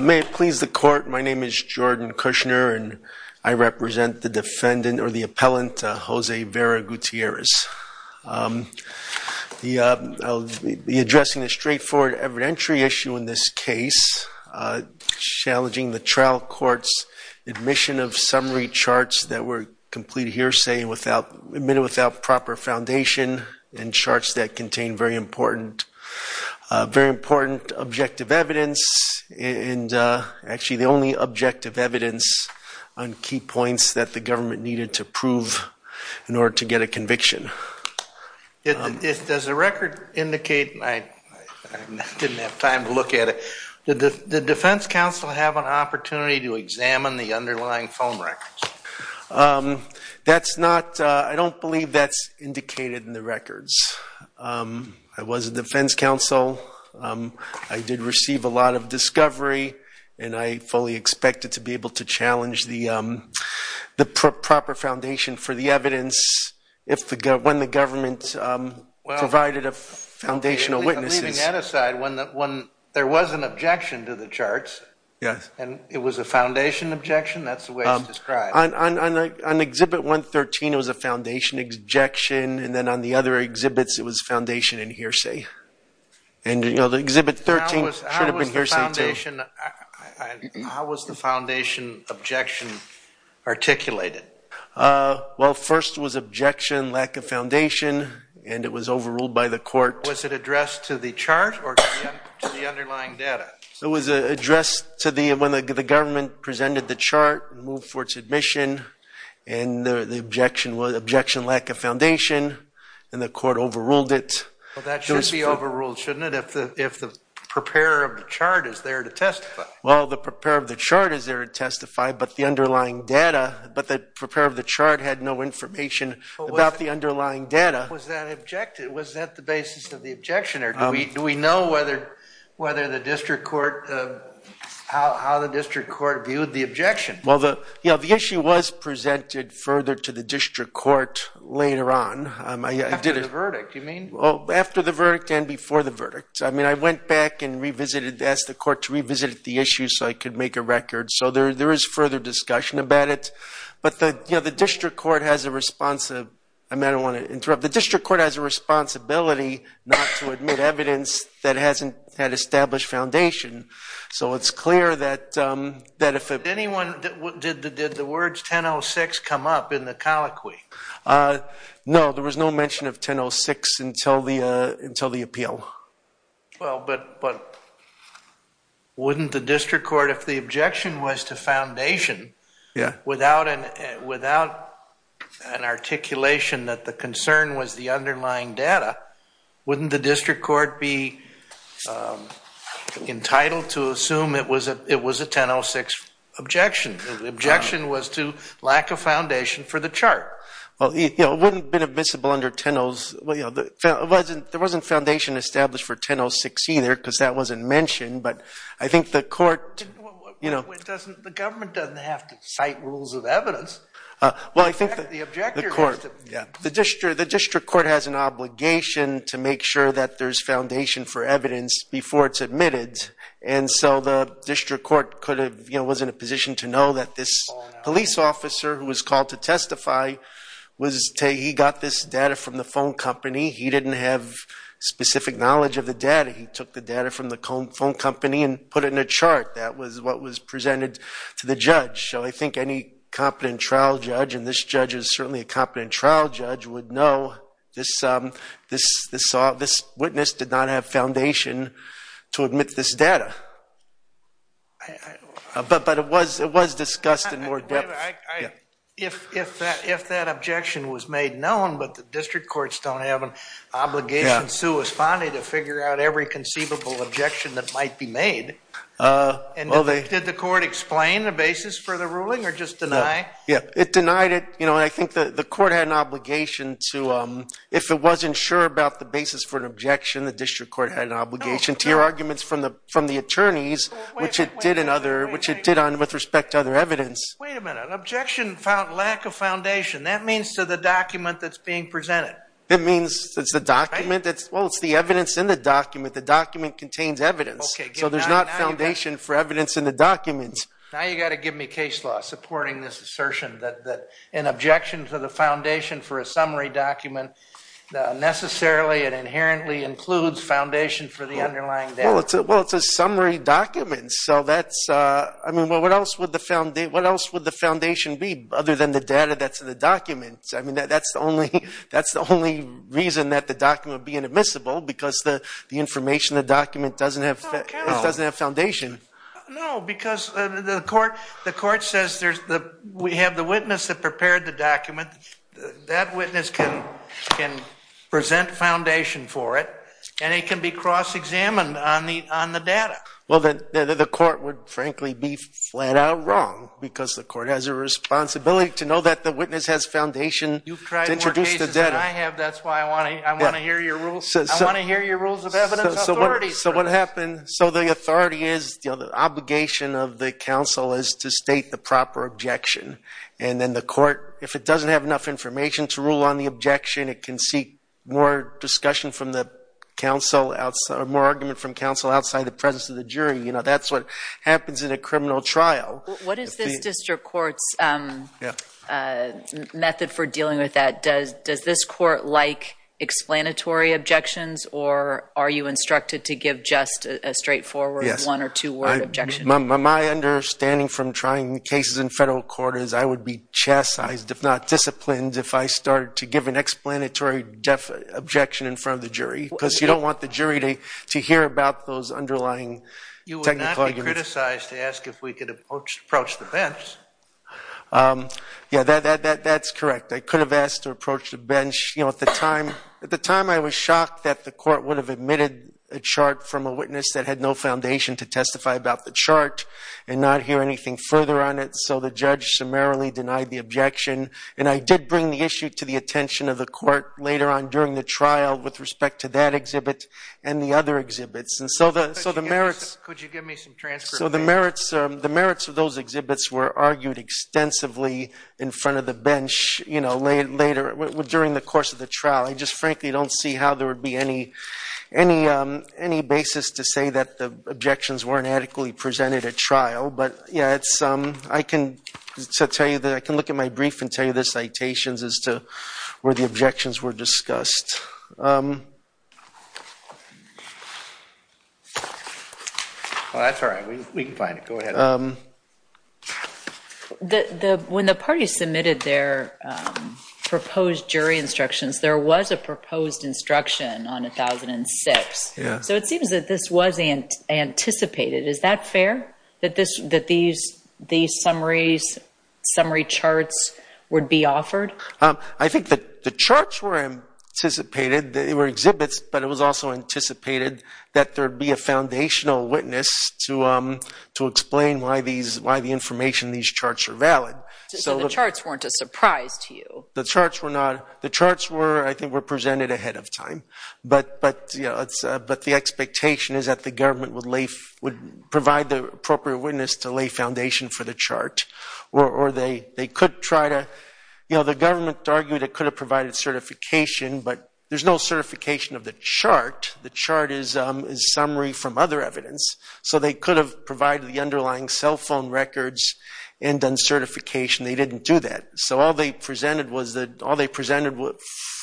May it please the court, my name is Jordan Kushner and I represent the defendant or the appellant Jose Vera-Gutierrez. I'll be addressing a straightforward evidentiary issue in this case, challenging the trial court's admission of summary charts that were complete hearsay without, admitted without proper foundation and charts that contain very important, very important objective evidence and actually the only objective evidence on key points that the government needed to prove in order to get a conviction. Does the record indicate, I didn't have time to look at it, did the defense counsel have an opportunity to examine the underlying phone records? That's not, I don't believe that's indicated in the records. I was a defense counsel. I did receive a lot of discovery and I fully expected to be able to challenge the proper foundation for the evidence if the government, when the government provided a foundational witnesses. Leaving that aside, when there was an objection to the charts and it was a foundation objection, that's the way it's described. On exhibit 113 it was a foundation objection and then on the other exhibits it was foundation and hearsay. And you know the exhibit 13 should have been hearsay too. How was the foundation objection articulated? Well first was objection, lack of foundation and it was overruled by the court. Was it addressed to the chart or to the underlying data? It was addressed to the chart and moved for its admission and the objection was objection lack of foundation and the court overruled it. Well that should be overruled, shouldn't it, if the preparer of the chart is there to testify? Well the preparer of the chart is there to testify but the underlying data, but the preparer of the chart had no information about the underlying data. Was that objected? Was that the basis of the objection? Do we know whether the district court, how the issue was presented further to the district court later on? After the verdict, you mean? Well after the verdict and before the verdict. I mean I went back and revisited, asked the court to revisit the issue so I could make a record. So there is further discussion about it. But you know the district court has a responsibility, I don't want to interrupt, the district court has a responsibility not to admit evidence that hasn't had established foundation. So it's clear that if anyone... Did the words 1006 come up in the colloquy? No, there was no mention of 1006 until the appeal. Well but wouldn't the district court, if the objection was to foundation, without an articulation that the concern was the underlying data, wouldn't the district court be entitled to a 1006 objection? The objection was to lack of foundation for the chart. Well it wouldn't have been admissible under 1006. There wasn't foundation established for 1006 either because that wasn't mentioned, but I think the court... The government doesn't have to cite rules of evidence. Well I think the court, the district court has an obligation to make sure that there's foundation for evidence before it's admitted. And so the district court could have, you know, was in a position to know that this police officer who was called to testify was... He got this data from the phone company. He didn't have specific knowledge of the data. He took the data from the phone company and put it in a chart. That was what was presented to the judge. So I think any competent trial judge, and this judge is certainly a competent trial judge, would know this witness did not have foundation to admit this data. But it was discussed in more depth. If that objection was made known, but the district courts don't have an obligation to respond to figure out every conceivable objection that might be made, did the court explain the basis for the ruling or just deny? Yeah, it denied it. You know, I think that the court had an obligation to... If it wasn't sure about the basis for an objection, the district court had an obligation to hear arguments from the attorneys, which it did in other... Which it did on with respect to other evidence. Wait a minute. Objection found lack of foundation. That means to the document that's being presented. It means it's the document that's... Well, it's the evidence in the document. The document contains evidence. So there's not foundation for evidence in the documents. Now you got to give me case law supporting this assertion that an objection to the foundation for a summary document necessarily and inherently includes foundation for the underlying data. Well, it's a summary document. So that's... I mean, well, what else would the foundation be other than the data that's in the documents? I mean, that's the only reason that the document would be inadmissible, because the information in the document doesn't have foundation. No, because the court says there's the... We have the witness that prepared the document. That witness can present foundation for it, and it can be cross-examined on the data. Well, then the court would frankly be flat out wrong, because the court has a responsibility to know that the witness has foundation to introduce the data. You've tried more cases than I have. That's why I want to hear your rules. I want to hear your rules of evidence authorities. So what happened... So the authority is... The obligation of the counsel is to state the proper objection. And then the court, if it doesn't have enough information to rule on the objection, it can seek more discussion from the counsel, more argument from counsel outside the presence of the jury. You know, that's what happens in a criminal trial. What is this district court's method for dealing with that? Does this court like explanatory objections, or are you instructed to give just a straightforward one or two word objection? My understanding from trying cases in federal court is I would be chastised, if not disciplined, if I started to give an explanatory objection in front of the jury, because you don't want the jury to hear about those underlying technical arguments. You would not be criticized to ask if we could approach the bench. Yeah, that's correct. I could have asked to approach the bench. You know, at the time I was shocked that the court would have omitted a chart from a witness that had no foundation to testify about the chart and not hear anything further on it, so the judge summarily denied the objection. And I did bring the issue to the attention of the court later on during the trial with respect to that exhibit and the other exhibits. And so the merits of those exhibits were argued extensively in front of the bench, you know, later during the course of the trial. I just frankly don't see how there would be any basis to say that the objections weren't adequately presented at trial. But yeah, I can look at my brief and tell you the citations as to where the objections were discussed. Well, that's all right. We can find it. Go ahead. When the parties submitted their proposed jury instructions, there was a proposed instruction on 1006. So it seems that this was anticipated. Is that fair, that these summary charts would be offered? I think that the charts were anticipated, they were exhibits, but it was also anticipated that there would be a foundational witness to explain why the information in these charts are valid. So the charts weren't a surprise to you? The charts, I think, were presented ahead of time. But the expectation is that the government would provide the appropriate witness to lay foundation for the chart. The government argued it could have provided certification, but there's no certification of the chart. The chart is summary from other evidence. So they could have provided the underlying cell phone records and done certification. They didn't do that. So all they presented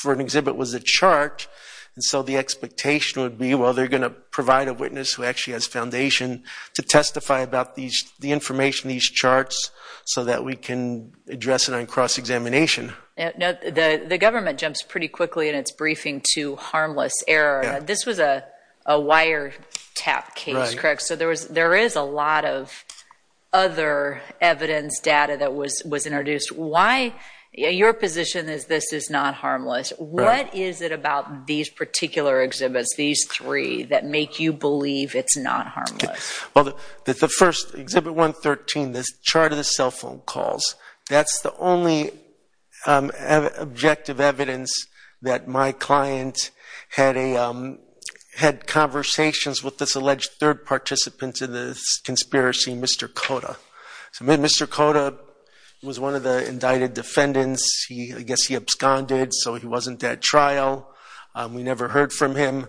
for an exhibit was a chart, and so the expectation would be, well, they're going to provide a witness who actually has foundation to testify about the information in these charts so that we can address it on cross-examination. The government jumps pretty quickly in its briefing to harmless error. This was a wiretap case, correct? So there is a lot of other evidence data that was introduced. Your position is this is not harmless. What is it about these particular exhibits, these three, that make you believe it's not harmless? Well, the first, Exhibit 113, this chart of the cell phone calls, that's the only objective evidence that my client had conversations with this alleged third participant to this conspiracy, Mr. Cota. So Mr. Cota was one of the indicted defendants. I guess he absconded, so he wasn't at trial. We never heard from him.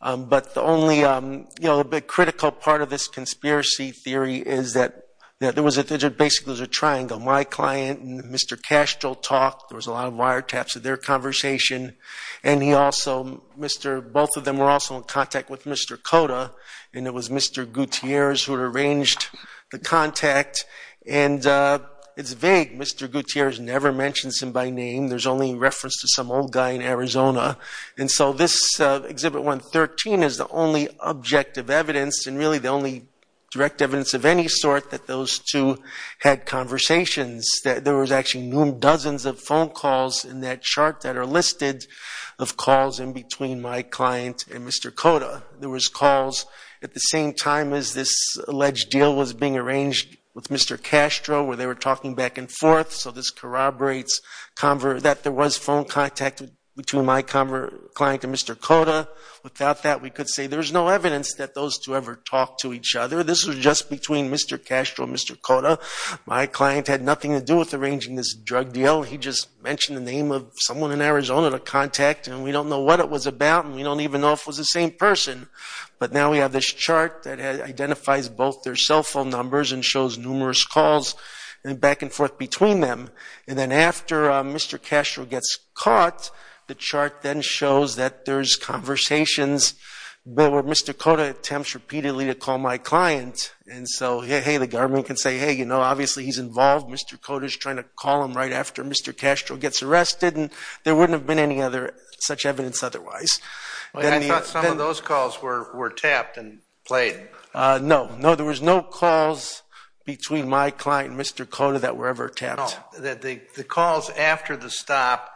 But the only critical part of this conspiracy theory is that there was basically a triangle. So my client and Mr. Castro talked. There was a lot of wiretaps of their conversation. And he also, both of them were also in contact with Mr. Cota. And it was Mr. Gutierrez who had arranged the contact. And it's vague. Mr. Gutierrez never mentions him by name. There's only reference to some old guy in Arizona. And so this Exhibit 113 is the only objective evidence, and really the only direct evidence of any sort, that those two had conversations. There was actually dozens of phone calls in that chart that are listed of calls in between my client and Mr. Cota. There was calls at the same time as this alleged deal was being arranged with Mr. Castro, where they were talking back and forth. So this corroborates that there was phone contact between my client and Mr. Cota. Without that, we could say there's no evidence that those two ever talked to each other. This was just between Mr. Castro and Mr. Cota. My client had nothing to do with arranging this drug deal. He just mentioned the name of someone in Arizona to contact. And we don't know what it was about, and we don't even know if it was the same person. But now we have this chart that identifies both their cell phone numbers and shows numerous calls back and forth between them. And then after Mr. Castro gets caught, the chart then shows that there's conversations where Mr. Cota attempts repeatedly to call my client. And so, hey, the government can say, hey, you know, obviously he's involved. Mr. Cota's trying to call him right after Mr. Castro gets arrested, and there wouldn't have been any other such evidence otherwise. I thought some of those calls were tapped and played. No, no, there was no calls between my client and Mr. Cota that were ever tapped. No, the calls after the stop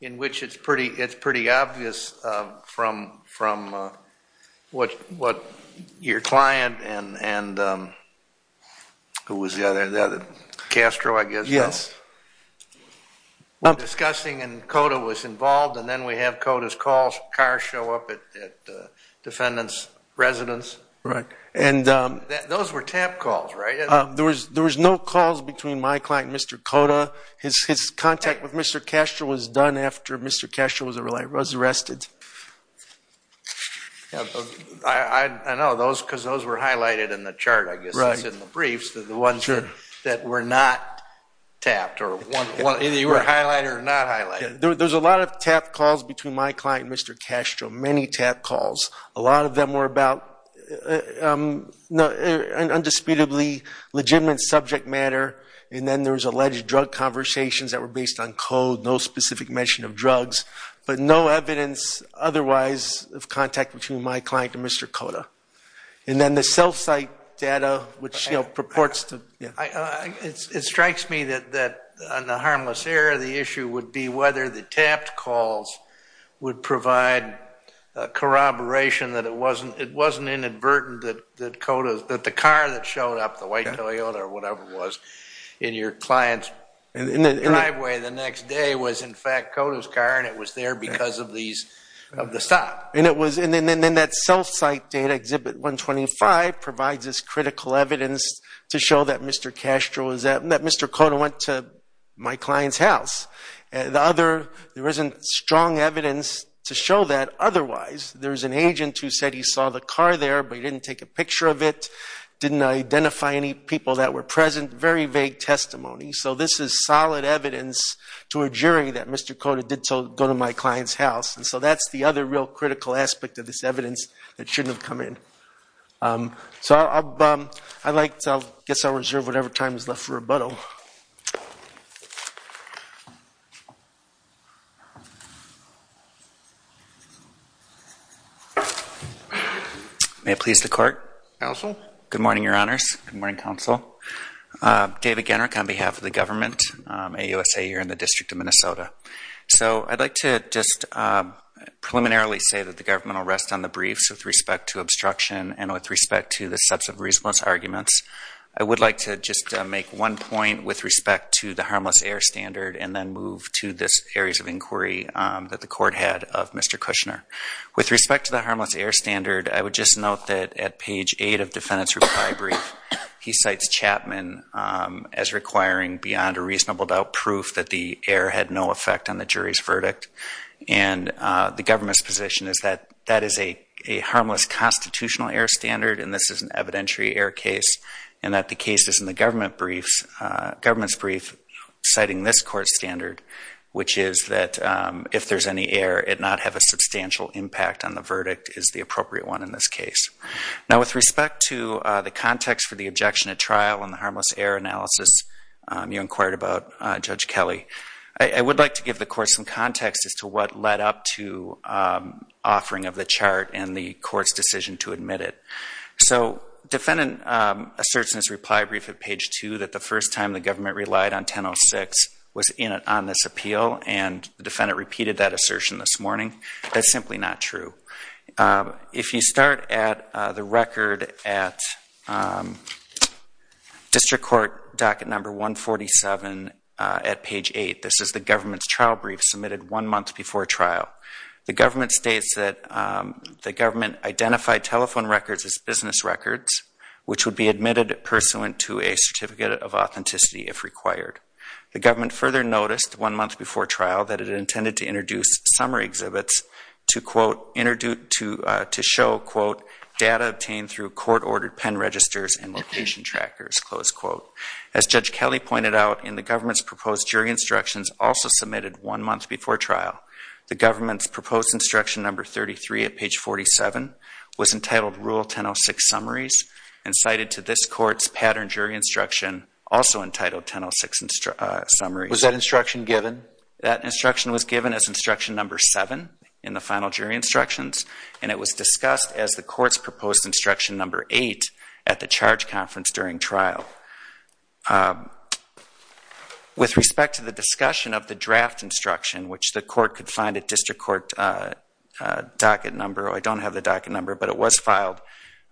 in which it's pretty obvious from what your client and who was the other, Castro, I guess, was discussing and Cota was involved, and then we have Cota's car show up at the defendant's residence. Right. Those were tapped calls, right? There was no calls between my client and Mr. Cota. His contact with Mr. Castro was done after Mr. Castro was arrested. I know, because those were highlighted in the chart, I guess, in the briefs, the ones that were not tapped. Either you were highlighted or not highlighted. There's a lot of tapped calls between my client and Mr. Castro, many tapped calls. A lot of them were about an undisputably legitimate subject matter, and then there was alleged drug conversations that were based on code, no specific mention of drugs, but no evidence otherwise of contact between my client and Mr. Cota. And then the self-cite data, which purports to... It strikes me that on the harmless error, the issue would be whether the tapped calls would provide corroboration, that it wasn't inadvertent that the car that showed up, the white Toyota or whatever it was, in your client's driveway the next day was, in fact, Cota's car, and it was there because of the stop. And then that self-cite data, Exhibit 125, provides us critical evidence to show that Mr. Cota went to my client's house. There isn't strong evidence to show that otherwise. There's an agent who said he saw the car there, but he didn't take a picture of it, didn't identify any people that were present, very vague testimony. So this is solid evidence to a jury that Mr. Cota did go to my client's house. And so that's the other real critical aspect of this evidence that shouldn't have come in. So I guess I'll reserve whatever time is left for rebuttal. May it please the Court. Counsel. Good morning, Your Honors. Good morning, Counsel. David Gennark on behalf of the government, AUSA here in the District of Minnesota. So I'd like to just preliminarily say that the government will rest on the briefs with respect to obstruction and with respect to the sets of reasonableness arguments. I would like to just make one point with respect to the harmless air standard and then move to this areas of inquiry that the Court had of Mr. Kushner. With respect to the harmless air standard, I would just note that at page 8 of defendant's reply brief, he cites Chapman as requiring beyond a reasonable doubt proof that the air had no effect on the jury's verdict. And the government's position is that that is a harmless constitutional air standard and this is an evidentiary air case and that the case is in the government's brief citing this court's standard, which is that if there's any air, it not have a substantial impact on the verdict, is the appropriate one in this case. Now with respect to the context for the objection at trial and the harmless air analysis you inquired about, Judge Kelly, I would like to give the Court some context as to what led up to offering of the chart and the Court's decision to admit it. So defendant asserts in his reply brief at page 2 that the first time the government relied on 1006 was on this appeal and the defendant repeated that assertion this morning. That's simply not true. If you start at the record at district court docket number 147 at page 8, this is the government's trial brief submitted one month before trial. The government states that the government identified telephone records as business records, which would be admitted pursuant to a certificate of authenticity if required. The government further noticed one month before trial that it intended to introduce summary exhibits to show, quote, data obtained through court-ordered pen registers and location trackers, close quote. As Judge Kelly pointed out in the government's proposed jury instructions also submitted one month before trial, the government's proposed instruction number 33 at page 47 was entitled Rule 1006 Summaries and cited to this Court's pattern jury instruction also entitled 1006 Summaries. Was that instruction given? That instruction was given as instruction number 7 in the final jury instructions, and it was discussed as the Court's proposed instruction number 8 at the charge conference during trial. With respect to the discussion of the draft instruction, which the Court could find at district court docket number, I don't have the docket number, but it was filed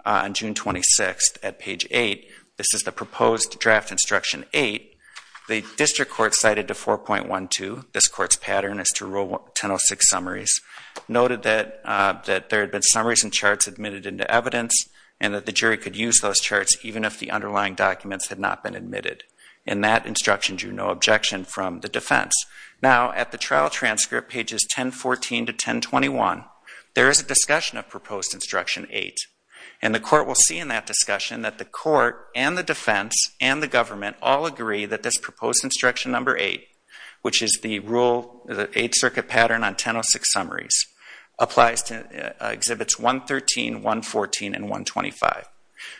on June 26 at page 8. This is the proposed draft instruction 8. The district court cited to 4.12, this Court's pattern as to Rule 1006 Summaries, noted that there had been summaries and charts admitted into evidence and that the jury could use those charts even if the underlying documents had not been admitted, and that instruction drew no objection from the defense. Now, at the trial transcript pages 1014 to 1021, there is a discussion of proposed instruction 8, and the Court will see in that discussion that the Court and the defense and the government all agree that this proposed instruction number 8, which is the 8th Circuit pattern on 1006 Summaries, applies to Exhibits 113, 114, and 125.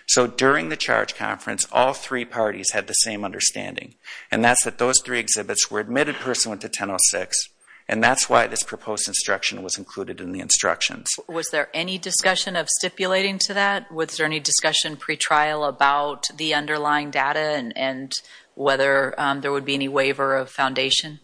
So during the charge conference, all three parties had the same understanding, and that's that those three exhibits were admitted pursuant to 1006, and that's why this proposed instruction was included in the instructions. Was there any discussion of stipulating to that? Was there any discussion pretrial about the underlying data and whether there would be any waiver of foundation?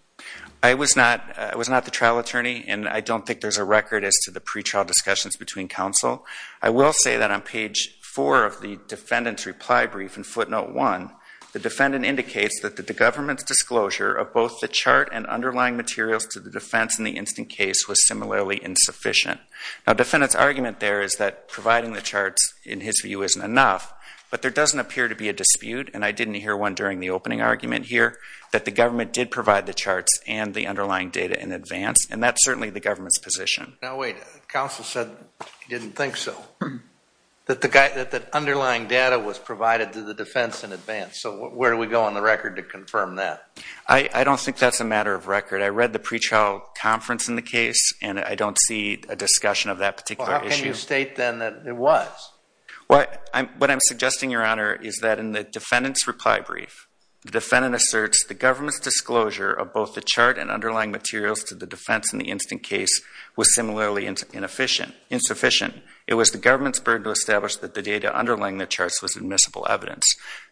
I was not the trial attorney, and I don't think there's a record as to the pretrial discussions between counsel. I will say that on page 4 of the defendant's reply brief in footnote 1, the defendant indicates that the government's disclosure of both the chart and underlying materials to the defense in the instant case was similarly insufficient. Now the defendant's argument there is that providing the charts, in his view, isn't enough, but there doesn't appear to be a dispute, and I didn't hear one during the opening argument here, that the government did provide the charts and the underlying data in advance, and that's certainly the government's position. Now wait, counsel said he didn't think so, that the underlying data was provided to the defense in advance. So where do we go on the record to confirm that? I don't think that's a matter of record. I read the pretrial conference in the case, and I don't see a discussion of that particular issue. Well, how can you state then that it was? What I'm suggesting, Your Honor, is that in the defendant's reply brief, the defendant asserts the government's disclosure of both the chart and underlying materials to the defense in the instant case was similarly insufficient. It was the government's burden to establish that the data underlying the charts was admissible evidence.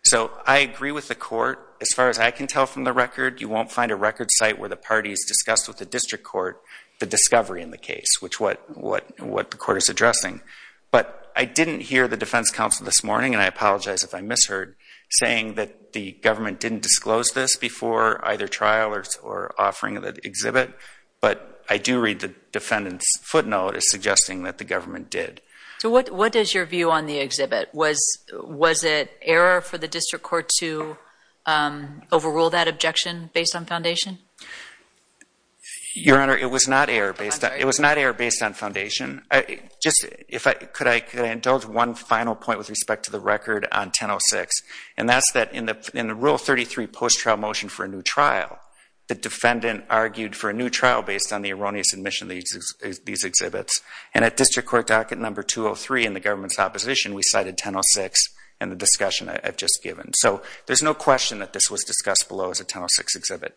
So I agree with the court. As far as I can tell from the record, you won't find a record site where the parties discussed with the district court the discovery in the case, which is what the court is addressing. But I didn't hear the defense counsel this morning, and I apologize if I misheard, saying that the government didn't disclose this before either trial or offering the exhibit, but I do read the defendant's footnote as suggesting that the government did. So what is your view on the exhibit? Was it error for the district court to overrule that objection based on foundation? Your Honor, it was not error based on foundation. Just could I indulge one final point with respect to the record on 1006, and that's that in the Rule 33 post-trial motion for a new trial, the defendant argued for a new trial based on the erroneous admission of these exhibits, and at district court docket number 203 in the government's opposition, we cited 1006 in the discussion I've just given. So there's no question that this was discussed below as a 1006 exhibit.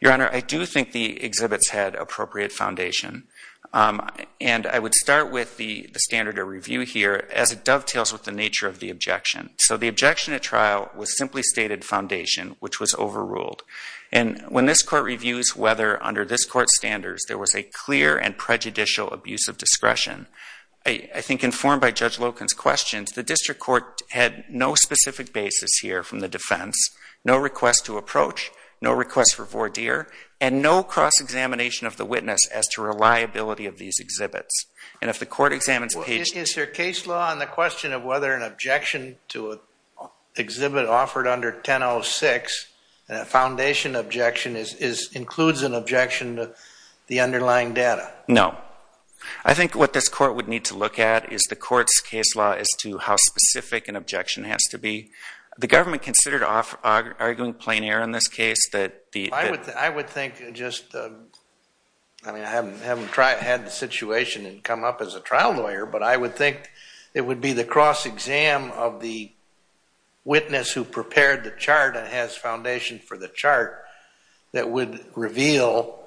Your Honor, I do think the exhibits had appropriate foundation, and I would start with the standard of review here as it dovetails with the nature of the objection. So the objection at trial was simply stated foundation, which was overruled. And when this court reviews whether under this court's standards there was a clear and prejudicial abuse of discretion, I think informed by Judge Loken's questions, the district court had no specific basis here from the defense, no request to approach, no request for voir dire, and no cross-examination of the witness as to reliability of these exhibits. And if the court examines page – Is there case law on the question of whether an objection to an exhibit offered under 1006, and a foundation objection includes an objection to the underlying data? No. I think what this court would need to look at is the court's case law as to how specific an objection has to be. The government considered arguing plein air in this case that the – I would think just – I mean, I haven't had the situation come up as a trial lawyer, but I would think it would be the cross-exam of the witness who prepared the chart and has foundation for the chart that would reveal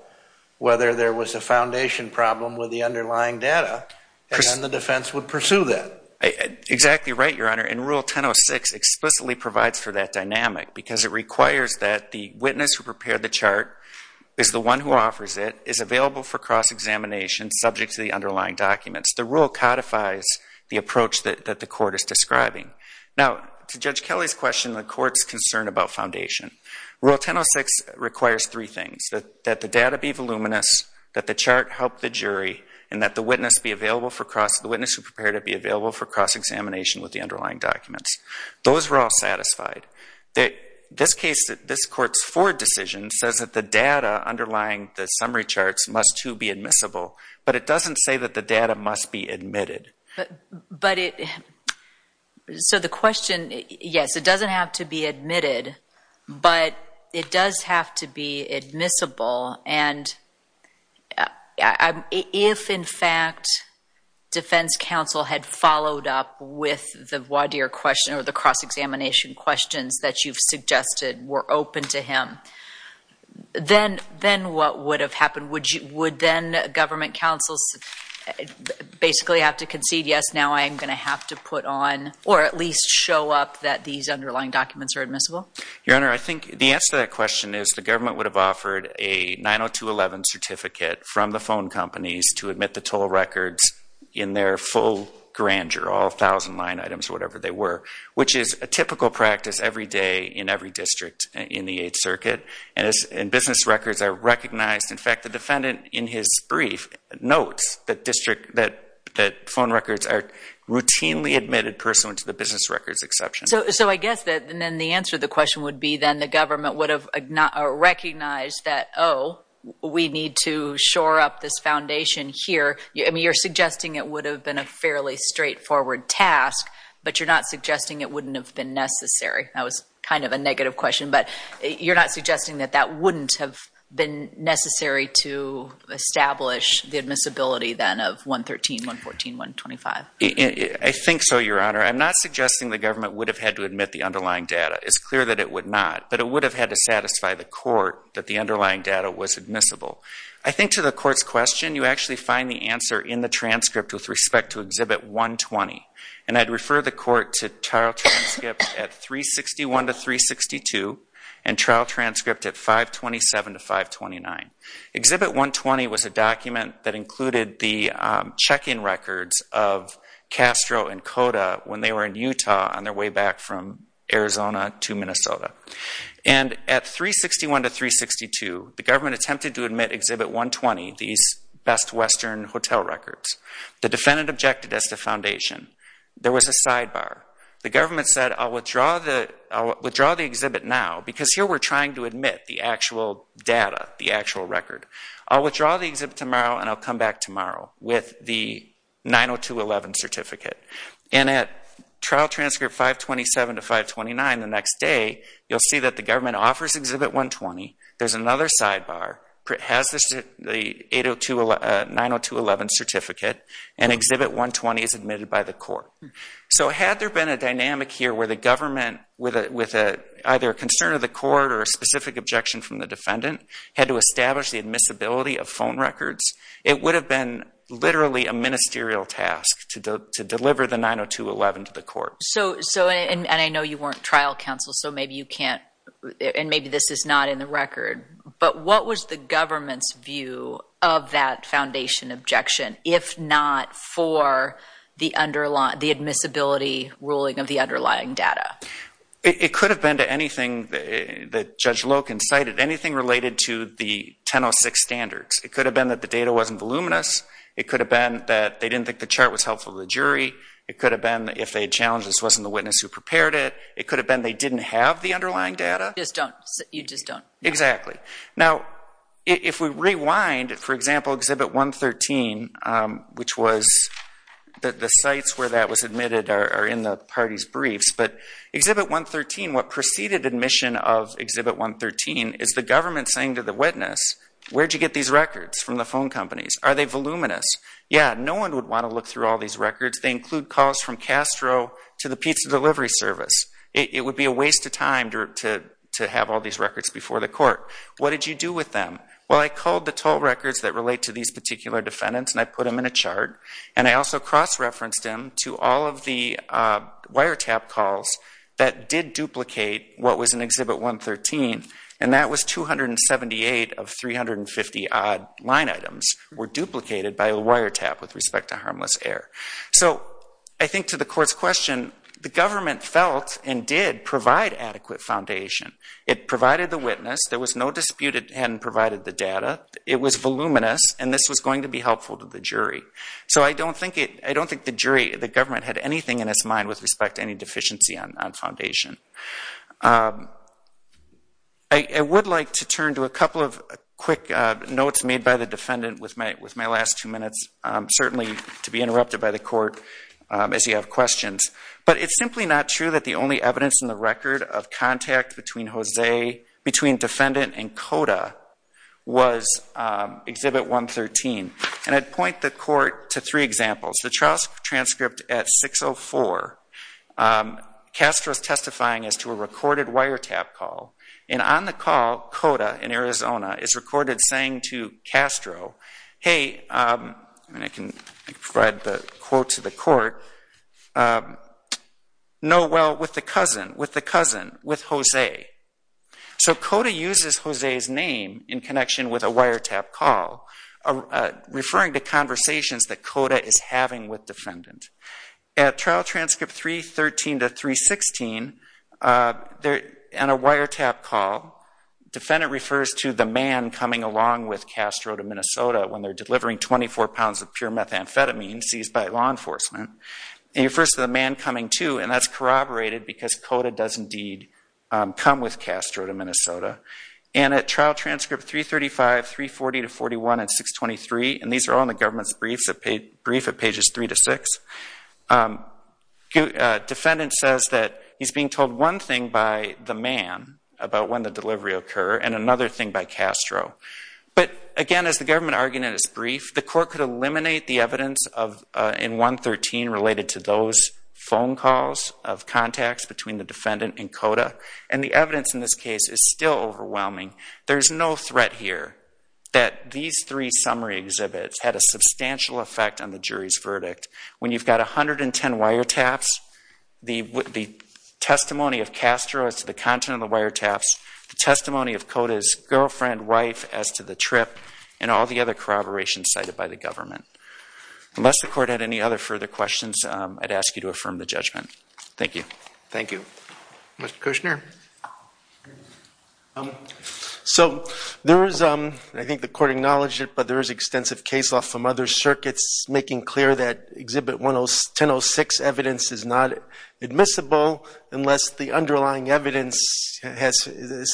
whether there was a foundation problem with the underlying data, and then the defense would pursue that. Exactly right, Your Honor. And Rule 1006 explicitly provides for that dynamic because it requires that the witness who prepared the chart is the one who offers it, is available for cross-examination subject to the underlying documents. The rule codifies the approach that the court is describing. Now, to Judge Kelly's question, the court's concern about foundation, Rule 1006 requires three things, that the data be voluminous, that the chart help the jury, and that the witness be available for cross – the witness who prepared it be available for cross-examination with the underlying documents. Those were all satisfied. This case, this court's Ford decision, says that the data underlying the summary charts must, too, be admissible, but it doesn't say that the data must be admitted. But it – so the question, yes, it doesn't have to be admitted, but it does have to be admissible, and if, in fact, defense counsel had followed up with the voir dire question or the cross-examination questions that you've suggested were open to him, then what would have happened? Would then government counsels basically have to concede, yes, now I am going to have to put on or at least show up that these underlying documents are admissible? Your Honor, I think the answer to that question is the government would have offered a 902.11 certificate from the phone companies to admit the toll records in their full grandeur, all 1,000 line items or whatever they were, which is a typical practice every day in every district in the Eighth Circuit. And business records are recognized. In fact, the defendant in his brief notes that phone records are routinely admitted pursuant to the business records exception. So I guess then the answer to the question would be then the government would have recognized that, oh, we need to shore up this foundation here. I mean, you're suggesting it would have been a fairly straightforward task, but you're not suggesting it wouldn't have been necessary. That was kind of a negative question, but you're not suggesting that that wouldn't have been necessary to establish the admissibility then of 113, 114, 125. I think so, Your Honor. I'm not suggesting the government would have had to admit the underlying data. It's clear that it would not, but it would have had to satisfy the court that the underlying data was admissible. I think to the court's question, you actually find the answer in the transcript with respect to Exhibit 120. And I'd refer the court to trial transcripts at 361 to 362 and trial transcript at 527 to 529. Exhibit 120 was a document that included the check-in records of Castro and Cota when they were in Utah on their way back from Arizona to Minnesota. And at 361 to 362, the government attempted to admit Exhibit 120, these Best Western Hotel records. The defendant objected as to foundation. There was a sidebar. The government said, I'll withdraw the exhibit now, because here we're trying to admit the actual data, the actual record. I'll withdraw the exhibit tomorrow and I'll come back tomorrow with the 902.11 certificate. And at trial transcript 527 to 529 the next day, you'll see that the government offers Exhibit 120. There's another sidebar. It has the 902.11 certificate, and Exhibit 120 is admitted by the court. So had there been a dynamic here where the government, with either a concern of the court or a specific objection from the defendant, had to establish the admissibility of phone records, it would have been literally a ministerial task to deliver the 902.11 to the court. And I know you weren't trial counsel, so maybe you can't, and maybe this is not in the record. But what was the government's view of that foundation objection, if not for the admissibility ruling of the underlying data? It could have been anything that Judge Loken cited, anything related to the 1006 standards. It could have been that the data wasn't voluminous. It could have been that they didn't think the chart was helpful to the jury. It could have been if they challenged this wasn't the witness who prepared it. It could have been they didn't have the underlying data. You just don't. Exactly. Now, if we rewind, for example, Exhibit 113, which was the sites where that was admitted are in the party's briefs. But Exhibit 113, what preceded admission of Exhibit 113, is the government saying to the witness, where did you get these records from the phone companies? Are they voluminous? Yeah, no one would want to look through all these records. They include calls from Castro to the pizza delivery service. It would be a waste of time to have all these records before the court. What did you do with them? Well, I culled the toll records that relate to these particular defendants and I put them in a chart, and I also cross-referenced them to all of the wiretap calls that did duplicate what was in Exhibit 113, and that was 278 of 350-odd line items were duplicated by a wiretap with respect to harmless air. So I think to the court's question, the government felt and did provide adequate foundation. It provided the witness. There was no dispute it hadn't provided the data. It was voluminous, and this was going to be helpful to the jury. So I don't think the jury, the government, had anything in its mind with respect to any deficiency on foundation. I would like to turn to a couple of quick notes made by the defendant with my last two minutes, certainly to be interrupted by the court as you have questions. But it's simply not true that the only evidence in the record of contact between defendant and CODA was Exhibit 113. And I'd point the court to three examples. The trial transcript at 6.04, Castro's testifying as to a recorded wiretap call, and on the call, CODA in Arizona is recorded saying to Castro, hey, and I can provide the quote to the court, no, well, with the cousin, with the cousin, with Jose. So CODA uses Jose's name in connection with a wiretap call, referring to conversations that CODA is having with defendant. At trial transcript 313 to 316, on a wiretap call, defendant refers to the man coming along with Castro to Minnesota when they're delivering 24 pounds of pure methamphetamine seized by law enforcement. It refers to the man coming too, and that's corroborated because CODA does indeed come with Castro to Minnesota. And at trial transcript 335, 340 to 414, and 623, and these are all in the government's brief at pages three to six, defendant says that he's being told one thing by the man about when the delivery will occur and another thing by Castro. But, again, as the government argument is brief, the court could eliminate the evidence in 113 related to those phone calls of contacts between the defendant and CODA, and the evidence in this case is still overwhelming. There's no threat here that these three summary exhibits had a substantial effect on the jury's verdict. When you've got 110 wiretaps, the testimony of Castro as to the content of the wiretaps, the testimony of CODA's girlfriend, wife, as to the trip, and all the other corroborations cited by the government. Unless the court had any other further questions, I'd ask you to affirm the judgment. Thank you. Thank you. Mr. Kushner. So there is, I think the court acknowledged it, but there is extensive case law from other circuits making clear that Exhibit 1006 evidence is not admissible unless the underlying evidence has,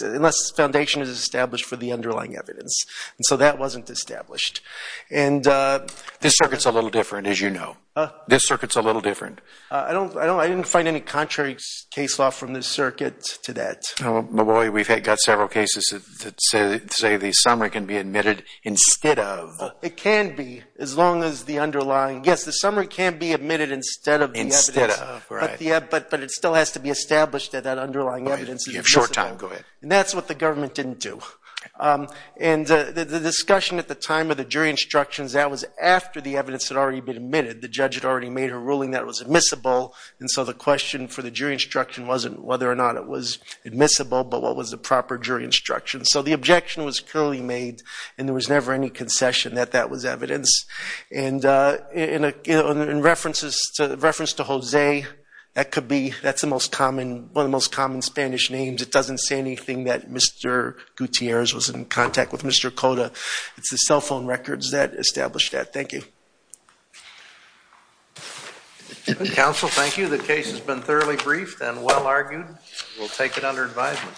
unless the foundation is established for the underlying evidence. And so that wasn't established. This circuit's a little different, as you know. This circuit's a little different. I didn't find any contrary case law from this circuit to that. We've got several cases that say the summary can be admitted instead of. It can be, as long as the underlying, yes, the summary can be admitted instead of the evidence. Instead of, right. But it still has to be established that that underlying evidence is admissible. You have short time. Go ahead. And that's what the government didn't do. And the discussion at the time of the jury instructions, that was after the evidence had already been admitted. The judge had already made her ruling that it was admissible, and so the question for the jury instruction wasn't whether or not it was admissible, but what was the proper jury instruction. So the objection was clearly made, and there was never any concession that that was evidence. And in reference to Jose, that could be, that's one of the most common Spanish names. It doesn't say anything that Mr. Gutierrez was in contact with Mr. Cota. It's the cell phone records that establish that. Thank you. Counsel, thank you. The case has been thoroughly briefed and well argued. We'll take it under advisement.